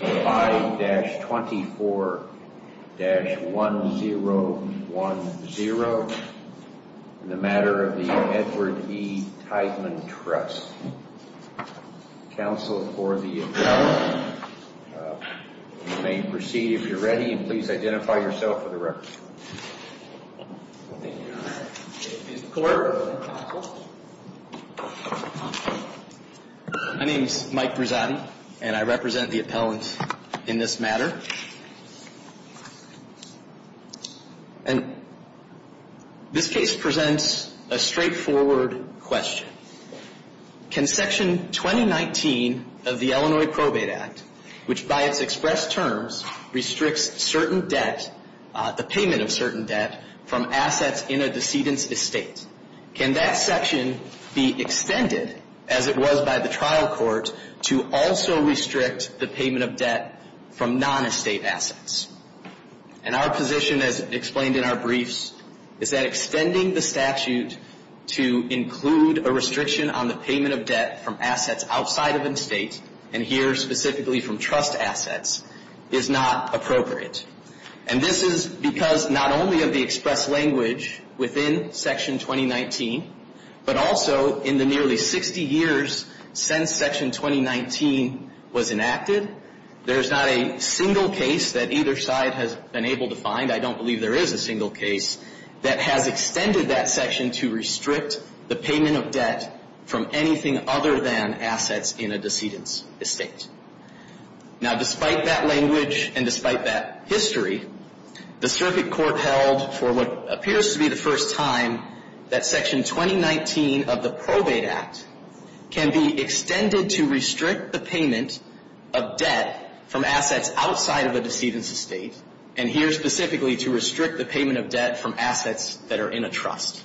5-24-1010 in the matter of the Edward E. Tiedemann Trust. Counsel for the appellant, you may proceed if you're ready and please identify yourself for the record. My name is Mike Brizotti and I represent the appellant in this matter. And this case presents a straightforward question. Can Section 2019 of the Illinois Probate Act, which by its expressed terms restricts certain debt, the payment of certain debt, from assets in a decedent's estate, can that section be extended as it was by the trial court to also restrict the payment of debt from non-estate assets? And our position, as explained in our briefs, is that extending the statute to include a restriction on the payment of debt from assets outside of an estate, and here specifically from trust assets, is not appropriate. And this is because not only of the expressed language within Section 2019, but also in the nearly 60 years since Section 2019 was enacted, there is not a single case that either side has been able to find, I don't believe there is a single case, that has extended that section to restrict the payment of debt from anything other than assets in a decedent's estate. Now, despite that language and despite that history, the circuit court held for what appears to be the first time that Section 2019 of the Probate Act can be extended to restrict the payment of debt from assets outside of a decedent's estate, and here specifically to restrict the payment of debt from assets that are in a trust.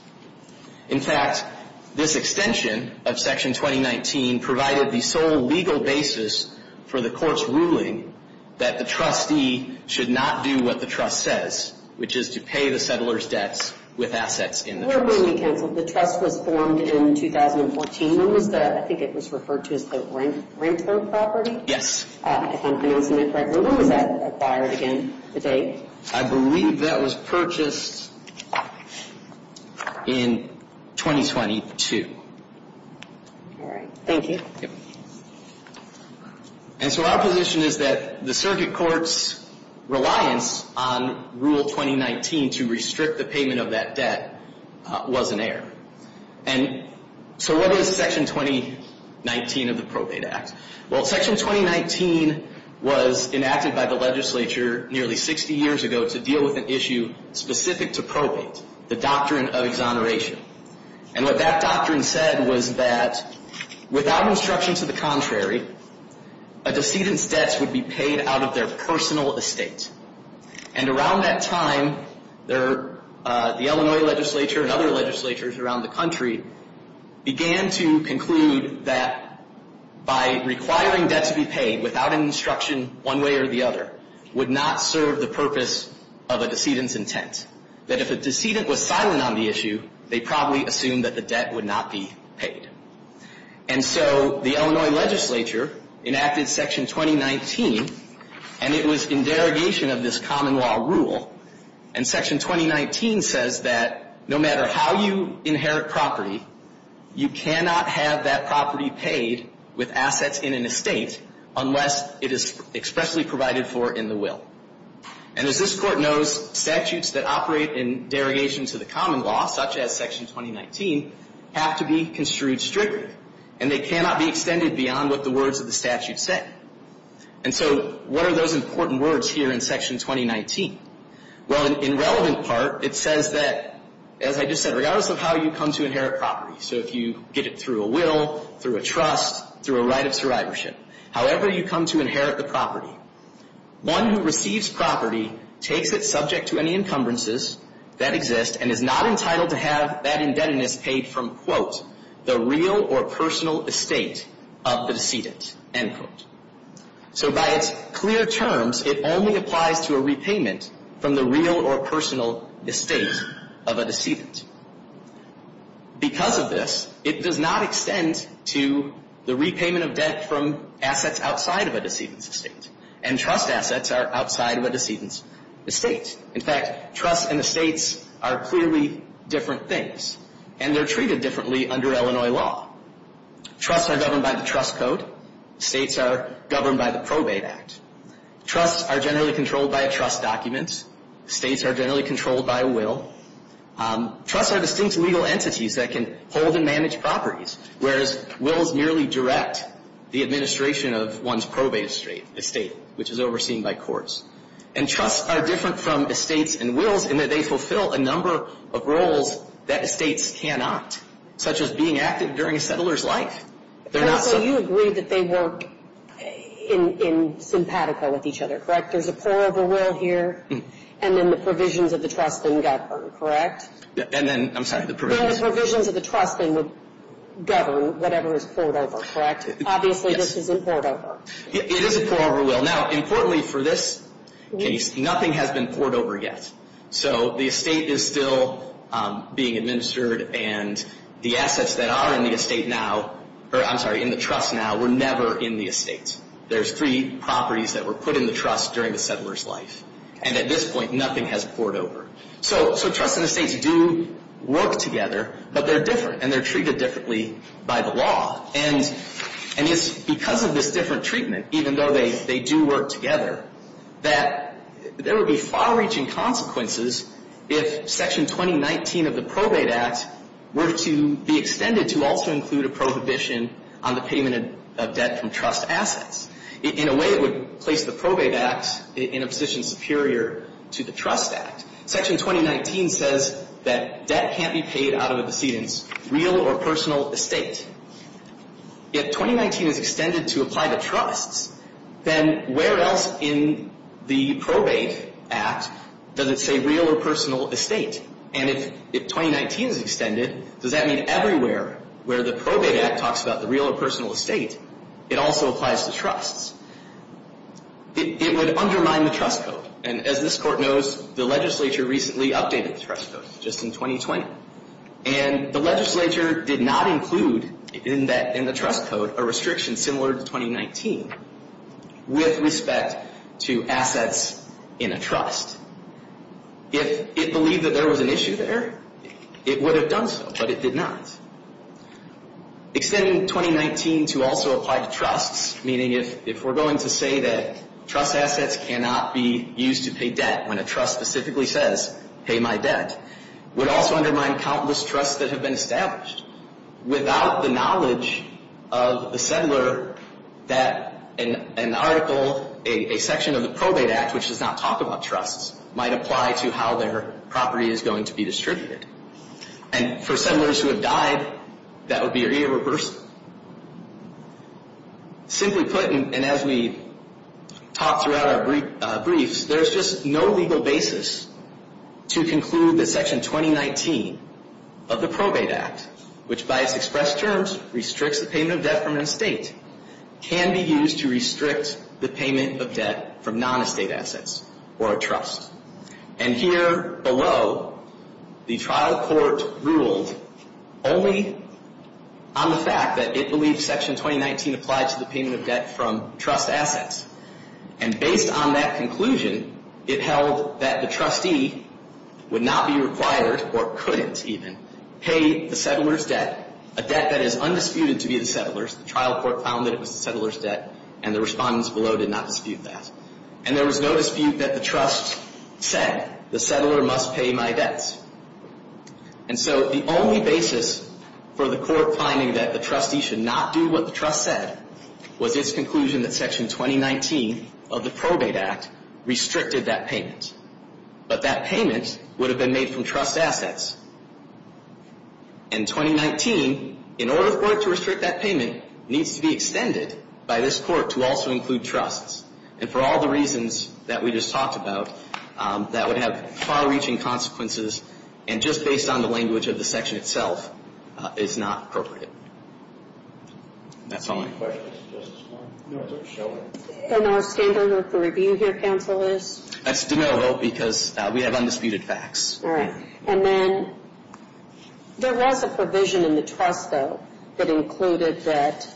In fact, this extension of Section 2019 provided the sole legal basis for the court's ruling that the trustee should not do what the trust says, which is to pay the settler's debts with assets in the trust. Your opinion, counsel, if the trust was formed in 2014, when was the, I think it was referred to as the rent-loan property? Yes. If I'm pronouncing that correctly, when was that acquired again, the date? I believe that was purchased in 2022. All right. Thank you. Yep. And so our position is that the circuit court's reliance on Rule 2019 to restrict the payment of that debt was an error, and so what is Section 2019 of the Probate Act? Well, Section 2019 was enacted by the legislature nearly 60 years ago to deal with an issue specific to probate, the doctrine of exoneration. And what that doctrine said was that without instruction to the contrary, a decedent's debts would be paid out of their personal estate. And around that time, the Illinois legislature and other legislatures around the country began to conclude that by requiring debt to be paid without instruction one way or the other would not serve the purpose of a decedent's intent, that if a decedent was silent on the issue, they probably assumed that the debt would not be paid. And so the Illinois legislature enacted Section 2019, and it was in derogation of this common law rule. And Section 2019 says that no matter how you inherit property, you cannot have that property paid with assets in an estate unless it is expressly provided for in the will. And as this Court knows, statutes that operate in derogation to the common law, such as Section 2019, have to be construed strictly, and they cannot be extended beyond what the words of the statute say. And so what are those important words here in Section 2019? Well, in relevant part, it says that, as I just said, regardless of how you come to inherit property, so if you get it through a will, through a trust, through a right of survivorship, however you come to inherit the property, one who receives property takes it subject to any encumbrances that exist and is not entitled to have that indebtedness paid from, quote, the real or personal estate of the decedent, end quote. So by its clear terms, it only applies to a repayment from the real or personal estate of a decedent. Because of this, it does not extend to the repayment of debt from assets outside of a decedent's estate. And trust assets are outside of a decedent's estate. In fact, trusts and estates are clearly different things. And they're treated differently under Illinois law. Trusts are governed by the Trust Code. States are governed by the Probate Act. Trusts are generally controlled by a trust document. States are generally controlled by a will. Trusts are distinct legal entities that can hold and manage properties, whereas wills merely direct the administration of one's probate estate, which is overseen by courts. And trusts are different from estates and wills in that they fulfill a number of roles that estates cannot, such as being active during a settler's life. And also, you agree that they work in simpatico with each other, correct? There's a pour-over will here, and then the provisions of the trust then govern, correct? And then, I'm sorry, the provisions... And the provisions of the trust then would govern whatever is poured over, correct? Obviously, this isn't poured over. It is a pour-over will. Now, importantly for this case, nothing has been poured over yet. So the estate is still being administered, and the assets that are in the estate now, or I'm sorry, in the trust now, were never in the estate. There's three properties that were put in the trust during the settler's life. And at this point, nothing has poured over. So trusts and estates do work together, but they're different. And they're treated differently by the law. And it's because of this different treatment, even though they do work together, that there would be far-reaching consequences if Section 2019 of the Probate Act were to be extended to also include a prohibition on the payment of debt from trust assets. In a way, it would place the Probate Act in a position superior to the Trust Act. Section 2019 says that debt can't be paid out of a decedent's real or personal estate. If 2019 is extended to apply to trusts, then where else in the Probate Act does it say real or personal estate? And if 2019 is extended, does that mean everywhere where the Probate Act talks about the real or personal estate, it also applies to trusts? It would undermine the trust code. And as this Court knows, the legislature recently updated the trust code, just in 2020. And the legislature did not include in the trust code a restriction similar to 2019 with respect to assets in a trust. If it believed that there was an issue there, it would have done so, but it did not. Extending 2019 to also apply to trusts, meaning if we're going to say that trust assets cannot be used to pay debt when a trust specifically says, pay my debt, would also undermine countless trusts that have been established. Without the knowledge of the settler that an article, a section of the Probate Act, which does not talk about trusts, might apply to how their property is going to be distributed. And for settlers who have died, that would be irreversible. Simply put, and as we talked throughout our briefs, there's just no legal basis to conclude that Section 2019 of the Probate Act, which by its expressed terms restricts the payment of debt from an estate, can be used to restrict the payment of debt from non-estate assets or a trust. And here below, the trial court ruled only on the fact that it believes Section 2019 applied to the payment of debt from trust assets. And based on that conclusion, it held that the trustee would not be required, or couldn't even, pay the settler's debt, a debt that is undisputed to be the settler's. The trial court found that it was the settler's debt, and the respondents below did not dispute that. And there was no dispute that the trust said, the settler must pay my debts. And so the only basis for the court finding that the trustee should not do what the trust said, was its conclusion that Section 2019 of the Probate Act restricted that payment. But that payment would have been made from trust assets. And 2019, in order for it to restrict that payment, needs to be extended by this court to also include trusts. And for all the reasons that we just talked about, that would have far-reaching consequences, and just based on the language of the section itself, is not appropriate. That's all I have. And our standard of review here, counsel, is? That's de novo, because we have undisputed facts. All right. And then, there was a provision in the trust, though, that included that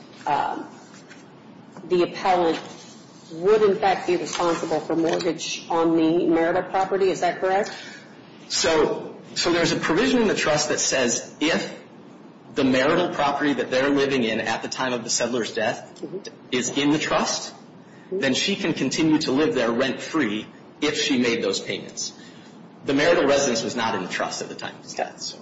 the appellant would, in fact, be responsible for mortgage on the marital property. Is that correct? So there's a provision in the trust that says, if the marital property that they're living in at the time of the settler's death is in the trust, then she can continue to live there rent-free if she made those payments. The marital residence was not in the trust at the time of his death.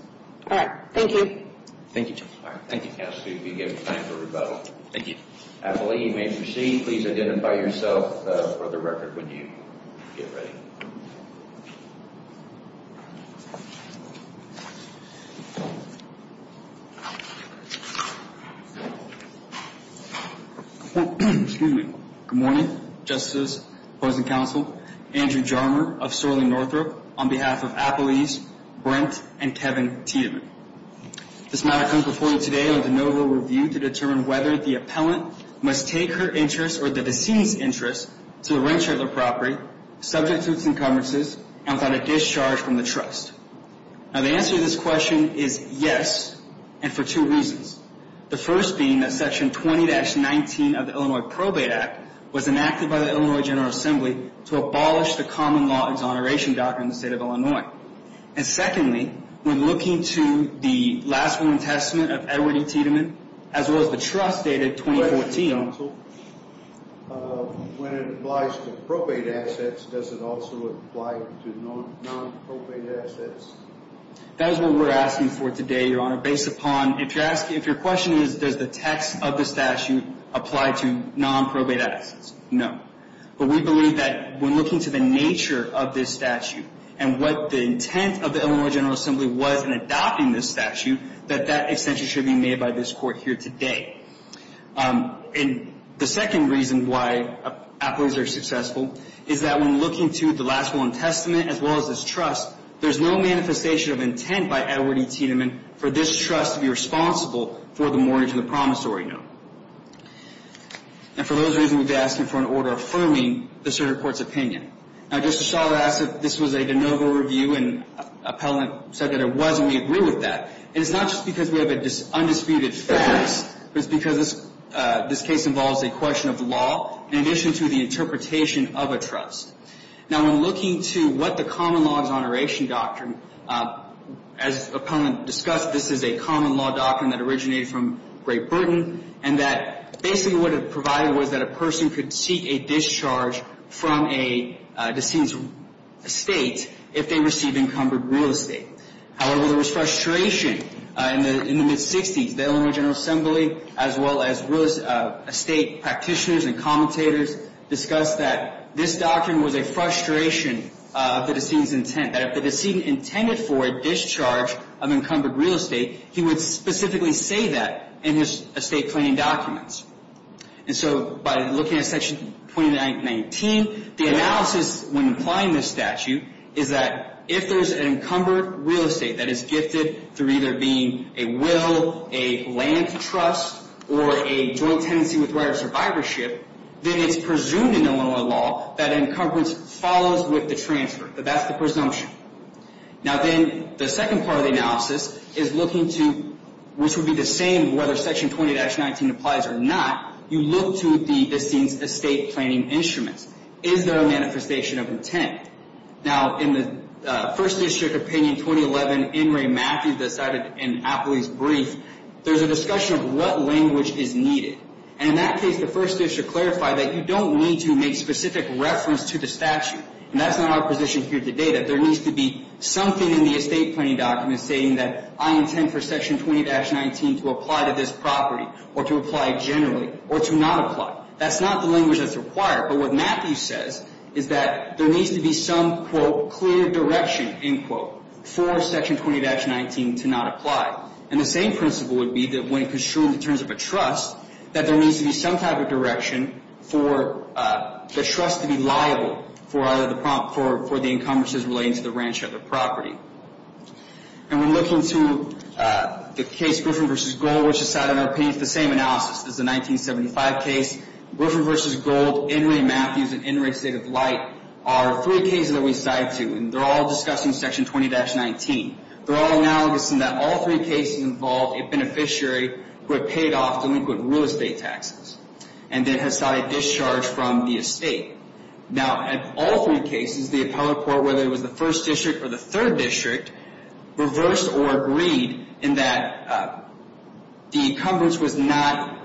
All right. Thank you. Thank you, Joe. All right. Thank you, Cassidy, for giving time for rebuttal. Thank you. Appellee, you may proceed. Please identify yourself for the record when you get ready. Good morning. Justice, opposing counsel, Andrew Jarmer of Sorley, Northrop, on behalf of appellees Brent and Kevin Tiedemann. This matter comes before you today under de novo review to determine whether the appellant must take her interest or the deceased's interest to the rent share of the property, subject to its encumbrances, and without a discharge from the trust. Now, the answer to this question is yes, and for two reasons. The first being that section 20-19 of the Illinois Probate Act was enacted by the Illinois General Assembly to abolish the common law exoneration doctrine in the state of Illinois. And secondly, when looking to the last written testament of Edward E. Tiedemann, as well as the trust dated 2014... When it applies to probate assets, does it also apply to non-probate assets? That is what we're asking for today, Your Honor, based upon... If your question is, does the text of the statute apply to non-probate assets, no. But we believe that when looking to the nature of this statute, and what the intent of the Illinois General Assembly was in adopting this statute, that that extension should be made by this Court here today. And the second reason why appellees are successful is that when looking to the last will and testament, as well as this trust, there's no manifestation of intent by Edward E. Tiedemann for this trust to be responsible for the mortgage on the promissory note. And for those reasons, we've been asking for an order affirming the Supreme Court's opinion. Now, Justice Schall has said that this was a de novo review, and appellant said that it was, and we agree with that. And it's not just because we have undisputed facts, but it's because this case involves a question of law, in addition to the interpretation of a trust. Now, when looking to what the common law is on a ration doctrine, as appellant discussed, this is a common law doctrine that originated from Great Britain, and that basically what it provided was that a person could seek a discharge from a decedent's estate if they received encumbered real estate. However, there was frustration in the mid-60s. The Illinois General Assembly, as well as real estate practitioners and commentators, discussed that this doctrine was a frustration of the decedent's intent, that if the decedent intended for a discharge of encumbered real estate, he would specifically say that in his estate planning documents. And so, by looking at Section 20-19, the analysis when applying this statute is that if there's an encumbered real estate that is gifted through either being a will, a land trust, or a joint tenancy with right of survivorship, then it's presumed in Illinois law that encumbrance follows with the transfer. That's the presumption. Now, then, the second part of the analysis is looking to, which would be the same whether Section 20-19 applies or not, you look to the decedent's estate planning instruments. Is there a manifestation of intent? Now, in the First District Opinion 2011, In re Matthews, that cited in Apley's brief, there's a discussion of what language is needed. And in that case, the First District clarified that you don't need to make specific reference to the statute. And that's not our position here today, that there needs to be something in the estate planning document stating that I intend for Section 20-19 to apply to this property, or to apply generally, or to not apply. That's not the language that's required. But what Matthews says is that there needs to be some, quote, clear direction, end quote, for Section 20-19 to not apply. And the same principle would be that when construed in terms of a trust, that there needs to be some type of direction for the trust to be liable for the encumbrances relating to the ranch or the property. And when looking to the case Griffin v. Gold, which is cited in our opinion, it's the same analysis as the 1975 case. Griffin v. Gold, In re. Matthews, and In re. State of Light are three cases that we cite to. And they're all discussing Section 20-19. They're all analogous in that all three cases involve a beneficiary who had paid off delinquent real estate taxes, and then had sought a discharge from the estate. Now, in all three cases, the appellate court, whether it was the First District or the Third District, reversed or agreed in that the encumbrance was not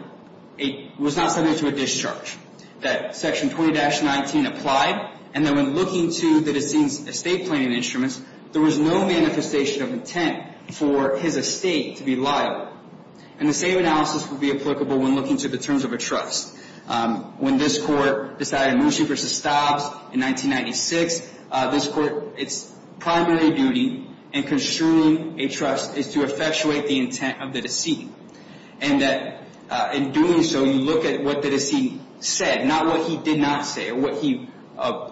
subject to a discharge, that Section 20-19 applied, and that when looking to the deceased's estate planning instruments, there was no manifestation of intent for his estate to be liable. And the same analysis would be applicable when looking to the terms of a trust. When this Court decided Mushi v. Stobbs in 1996, this Court's primary duty in construing a trust is to effectuate the intent of the deceit. And that in doing so, you look at what the deceit said, not what he did not say or what he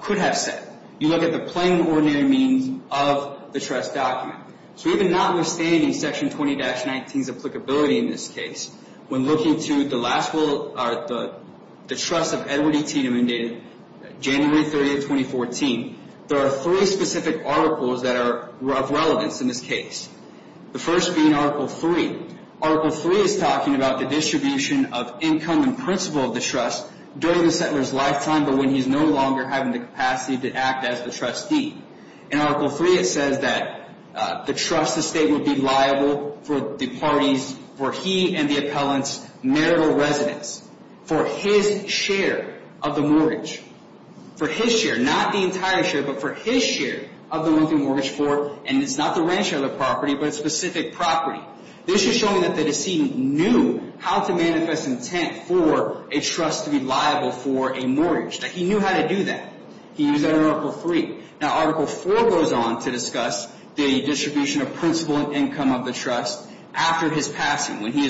could have said. You look at the plain and ordinary meanings of the trust document. So even notwithstanding Section 20-19's applicability in this case, when looking to the trust of Edward E. Tiedemann dated January 30, 2014, there are three specific articles that are of relevance in this case. The first being Article 3. Article 3 is talking about the distribution of income and principle of the trust during the settler's lifetime, but when he's no longer having the capacity to act as the trustee. In Article 3, it says that the trust estate would be liable for the parties, for he and the appellant's marital residence, for his share of the mortgage. For his share, not the entire share, but for his share of the monthly mortgage for, and it's not the rent share of the property, but a specific property. This is showing that the decedent knew how to manifest intent for a trust to be liable for a mortgage. That he knew how to do that. He knew that in Article 3. Now, Article 4 goes on to discuss the distribution of principle and income of the trust after his passing. When he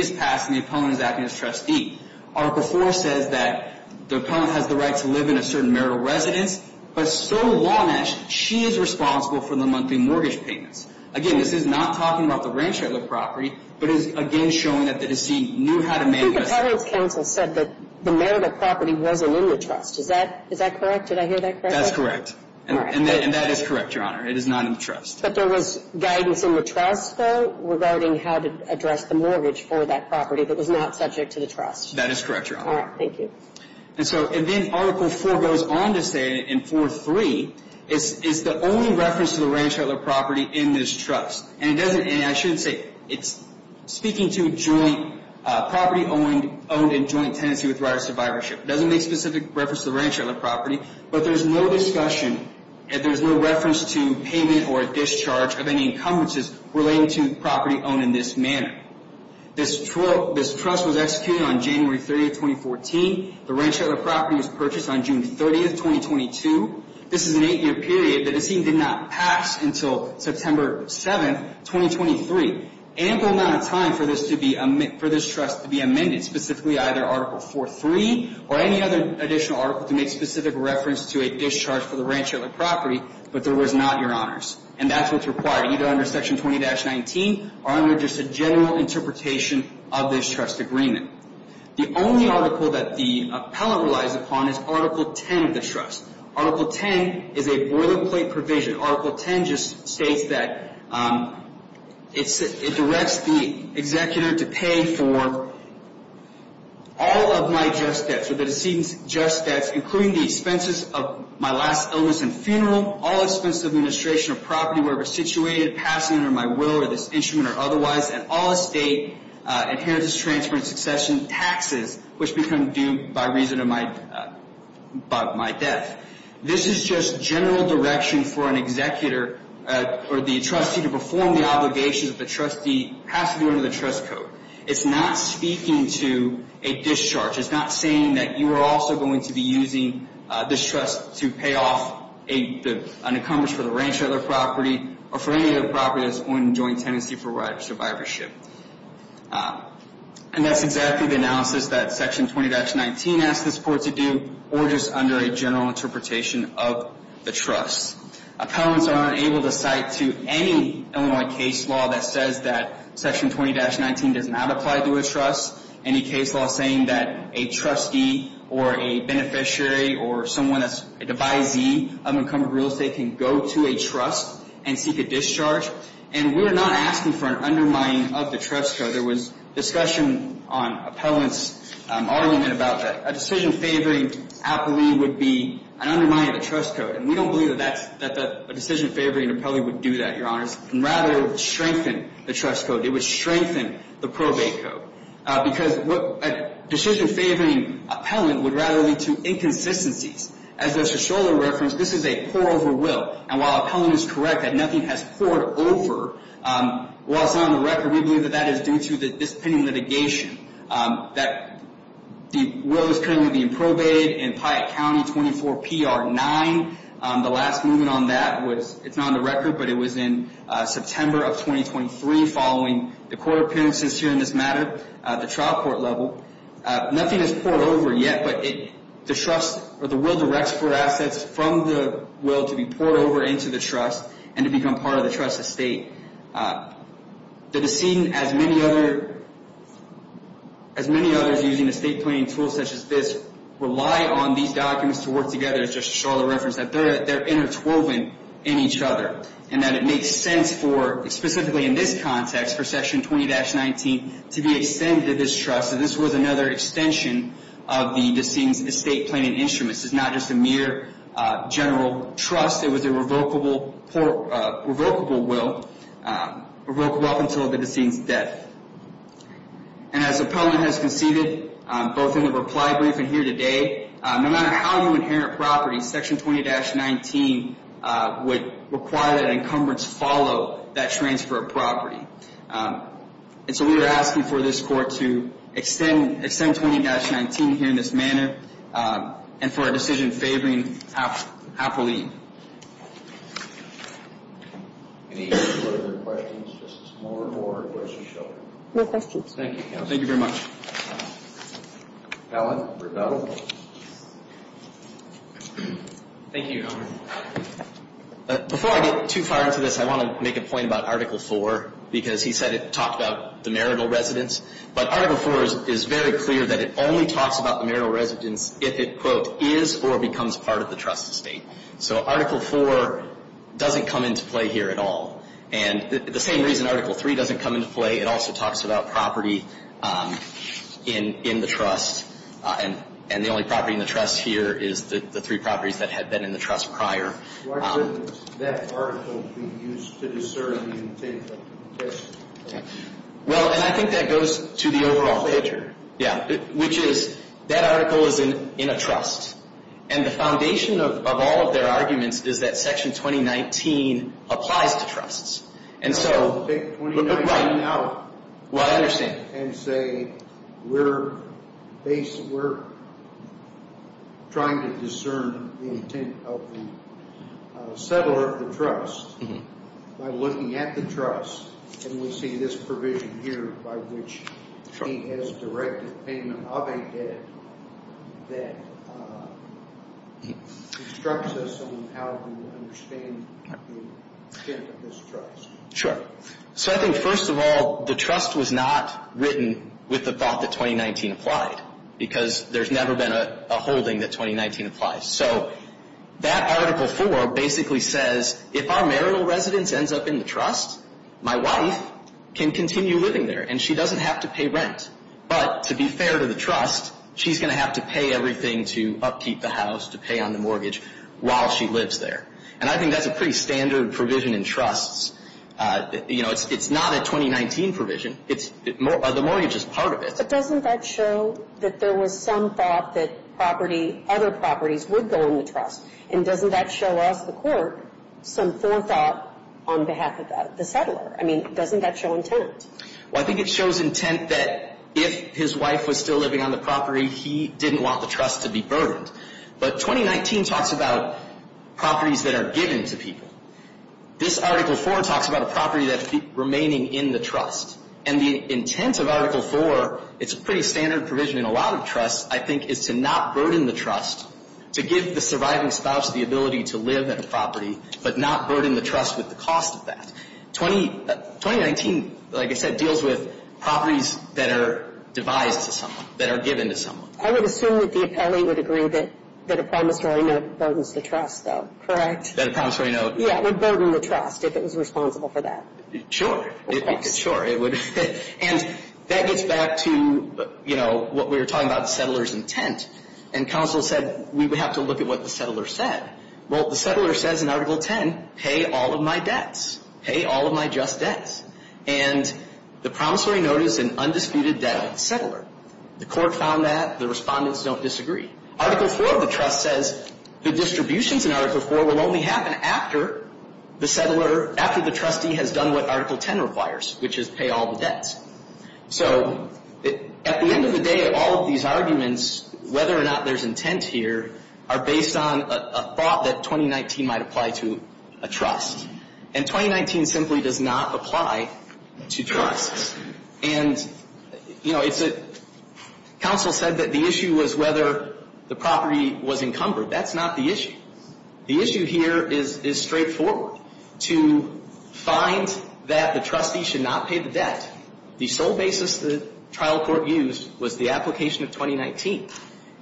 is passing, the appellant is acting as trustee. Article 4 says that the appellant has the right to live in a certain marital residence, but so long as she is responsible for the monthly mortgage payments. Again, this is not talking about the rent share of the property, but is again showing that the decedent knew how to manifest... I think the Appellant's Counsel said that the marital property wasn't in the trust. Is that correct? Did I hear that correctly? That's correct. And that is correct, Your Honor. It is not in the trust. But there was guidance in the trust, though, regarding how to address the mortgage for that property that was not subject to the trust. That is correct, Your Honor. All right. Thank you. And so, and then Article 4 goes on to say in 4.3, it's the only reference to the rent share of the property in this trust. And it doesn't... I shouldn't say... It's speaking to joint property owned and joint tenancy with right of survivorship. It doesn't make specific reference to the rent share of the property, but there's no discussion and there's no reference to payment or discharge of any encumbrances relating to property owned in this manner. This trust was executed on January 30, 2014. The rent share of the property was purchased on June 30, 2022. This is an eight-year period that it seemed did not pass until September 7, 2023. Ample amount of time for this trust to be amended, specifically either Article 4.3 or any other additional article to make specific reference to a discharge for the rent share of the property, but there was not, Your Honors. And that's what's required, either under Section 20-19 or under just a general interpretation of this trust agreement. The only article that the appellant relies upon is Article 10 of the trust. Article 10 is a boilerplate provision. Article 10 just states that it directs the executor to pay for all of my just debts or the decedent's just debts, including the expenses of my last illness and funeral, all expenses of administration of property wherever situated, passing under my will or this instrument or otherwise, and all estate, inheritance, transfer, and succession taxes, which become due by reason of my death. This is just general direction for an executor or the trustee to perform the obligations that the trustee has to do under the trust code. It's not speaking to a discharge. It's not saying that you are also going to be using this trust to pay off an encumbrance for the rancher of the property or for any of the properties on joint tenancy for survivorship. And that's exactly the analysis that Section 20-19 asks the court to do or just under a general interpretation of the trust. Appellants are unable to cite to any Illinois case law that says that Section 20-19 does not apply to a trust, any case law saying that a trustee or a beneficiary or someone that's a devisee of an encumbered real estate can go to a trust and seek a discharge. And we are not asking for an undermining of the trust code. There was discussion on appellants arguing about that. A decision favoring appellee would be an undermining of the trust code. And we don't believe that that's that a decision favoring an appellee would do that, Your Honors. Rather, it would strengthen the trust code. It would strengthen the probate code. Because a decision favoring appellant would rather lead to inconsistencies. As Mr. Scholar referenced, this is a pour-over will. And while appellant is correct that nothing has poured over, while it's not on the record, we believe that that is due to this pending litigation that the will is currently being probated in Piatt County 24 PR 9. The last movement on that was, it's not on the record, but it was in September of 2023 following the court appearances here in this matter at the trial court level. Nothing has poured over yet, but the trust or the will directs for assets from the will to be poured over into the trust and to become part of the trust estate. The decedent, as many others using estate planning tools such as this, rely on these documents to work together just to show the reference that they're interwoven in each other and that it makes sense for specifically in this context for section 20-19 to be extended this trust. So this was another extension of the decedent's estate planning instruments. This is not just a mere general trust. It was a revocable will revocable until the decedent's death. And as the appellant has conceded both in the reply brief and here today, no matter how you inherit property, section 20-19 would require that encumbrance follow that transfer of property. And so we are asking for this court to extend 20-19 here in this manner and for a decision favoring appellee. Any further questions, Justice Moore, or aggressive show? No questions. Thank you, counsel. Thank you very much. Allen, rebuttal. Thank you, Your Honor. Before I get too far into this, I want to make a point about Article 4 because he said it talked about the marital residence. But Article 4 is very clear that it only talks about marital residence if it, quote, is or becomes part of the trust estate. So Article 4 doesn't come into play here at all. And the same reason Article 3 doesn't come into play, it also talks about property in the trust. And the only property in the trust here is the three properties that had been in the trust prior. Well, and I think that goes to the overall picture. Yeah. Which is, that article is in a trust. And the foundation of all of their arguments is that Section 2019 applies to trusts. And so, Right. Well, I understand. And say, we're trying to discern the intent of the settler of the trust by looking at the trust and we see this provision here by which he has directed payment of a debt that instructs us on how to understand the intent of this trust. Sure. So I think, first of all, the trust was not written with the thought that 2019 applied. Because there's never been a holding that 2019 applies. So, that Article 4 basically says, if our marital residence ends up in the trust, my wife can continue living there. And she doesn't have to pay rent. But, to be fair to the trust, she's going to have to pay everything to upkeep the house, to pay on the mortgage while she lives there. And I think that's a pretty standard provision in trusts. You know, it's not a 2019 provision. It's, the mortgage is part of it. But doesn't that show that there was some thought that property, other properties would go in the trust? And doesn't that show us, the court, some forethought on behalf of the settler? I mean, doesn't that show intent? Well, I think it shows intent that if his wife was still living on the property, he didn't want the trust to be burdened. But, 2019 talks about properties that are given to people. This Article 4 talks about a property that's remaining in the trust. And the intent of Article 4, it's a pretty standard provision in a lot of trusts, I think, is to not burden the trust, to give the surviving spouse the ability to live in a property, but not burden the trust with the cost of that. 20, 2019, like I said, deals with properties that are devised to someone, that are given to someone. I would assume that the appellee would agree that a promissory note burdens the trust, though. Correct? That a promissory note would burden the trust if it was responsible for that. Sure. Sure, it would. And that gets back to, you know, what we were talking about, the settler's intent. And counsel said we would have to look at what the settler said. Well, the settler says in Article 10, pay all of my debts. Pay all of my just debts. And the promissory note is an undisputed debt of the settler. The court found that. The respondents don't disagree. Article 4 of the trust says the distributions in Article 4 will only happen after the settler, after the trustee has done what Article 10 requires, which is pay all the debts. So at the end of the day, all of these arguments, whether or not there's intent here, are based on a thought that 2019 might apply to a trust. And 2019 simply does not apply to trusts. And you know, it's a counsel said that the issue was whether the property was encumbered. That's not the issue. The issue here is straightforward. To find that the trustee should not pay the debt, the sole basis the trial court used was the application of 2019.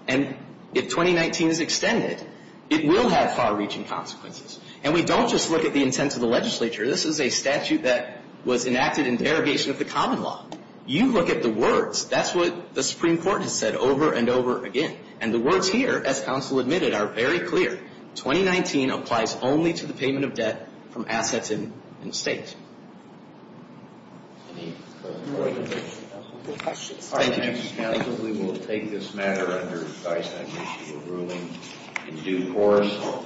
And if 2019 is extended, it will have far-reaching consequences. And we don't just look at the intent of the legislature. This is a statute that was enacted in derogation of the common law. You look at the words. That's what the Supreme Court has said over and over again. And the words here, as counsel admitted, are very clear. 2019 applies only to the payment of debt from assets in the state. Any further questions? Thank you. We will take this matter under Dysagnostic ruling in due course.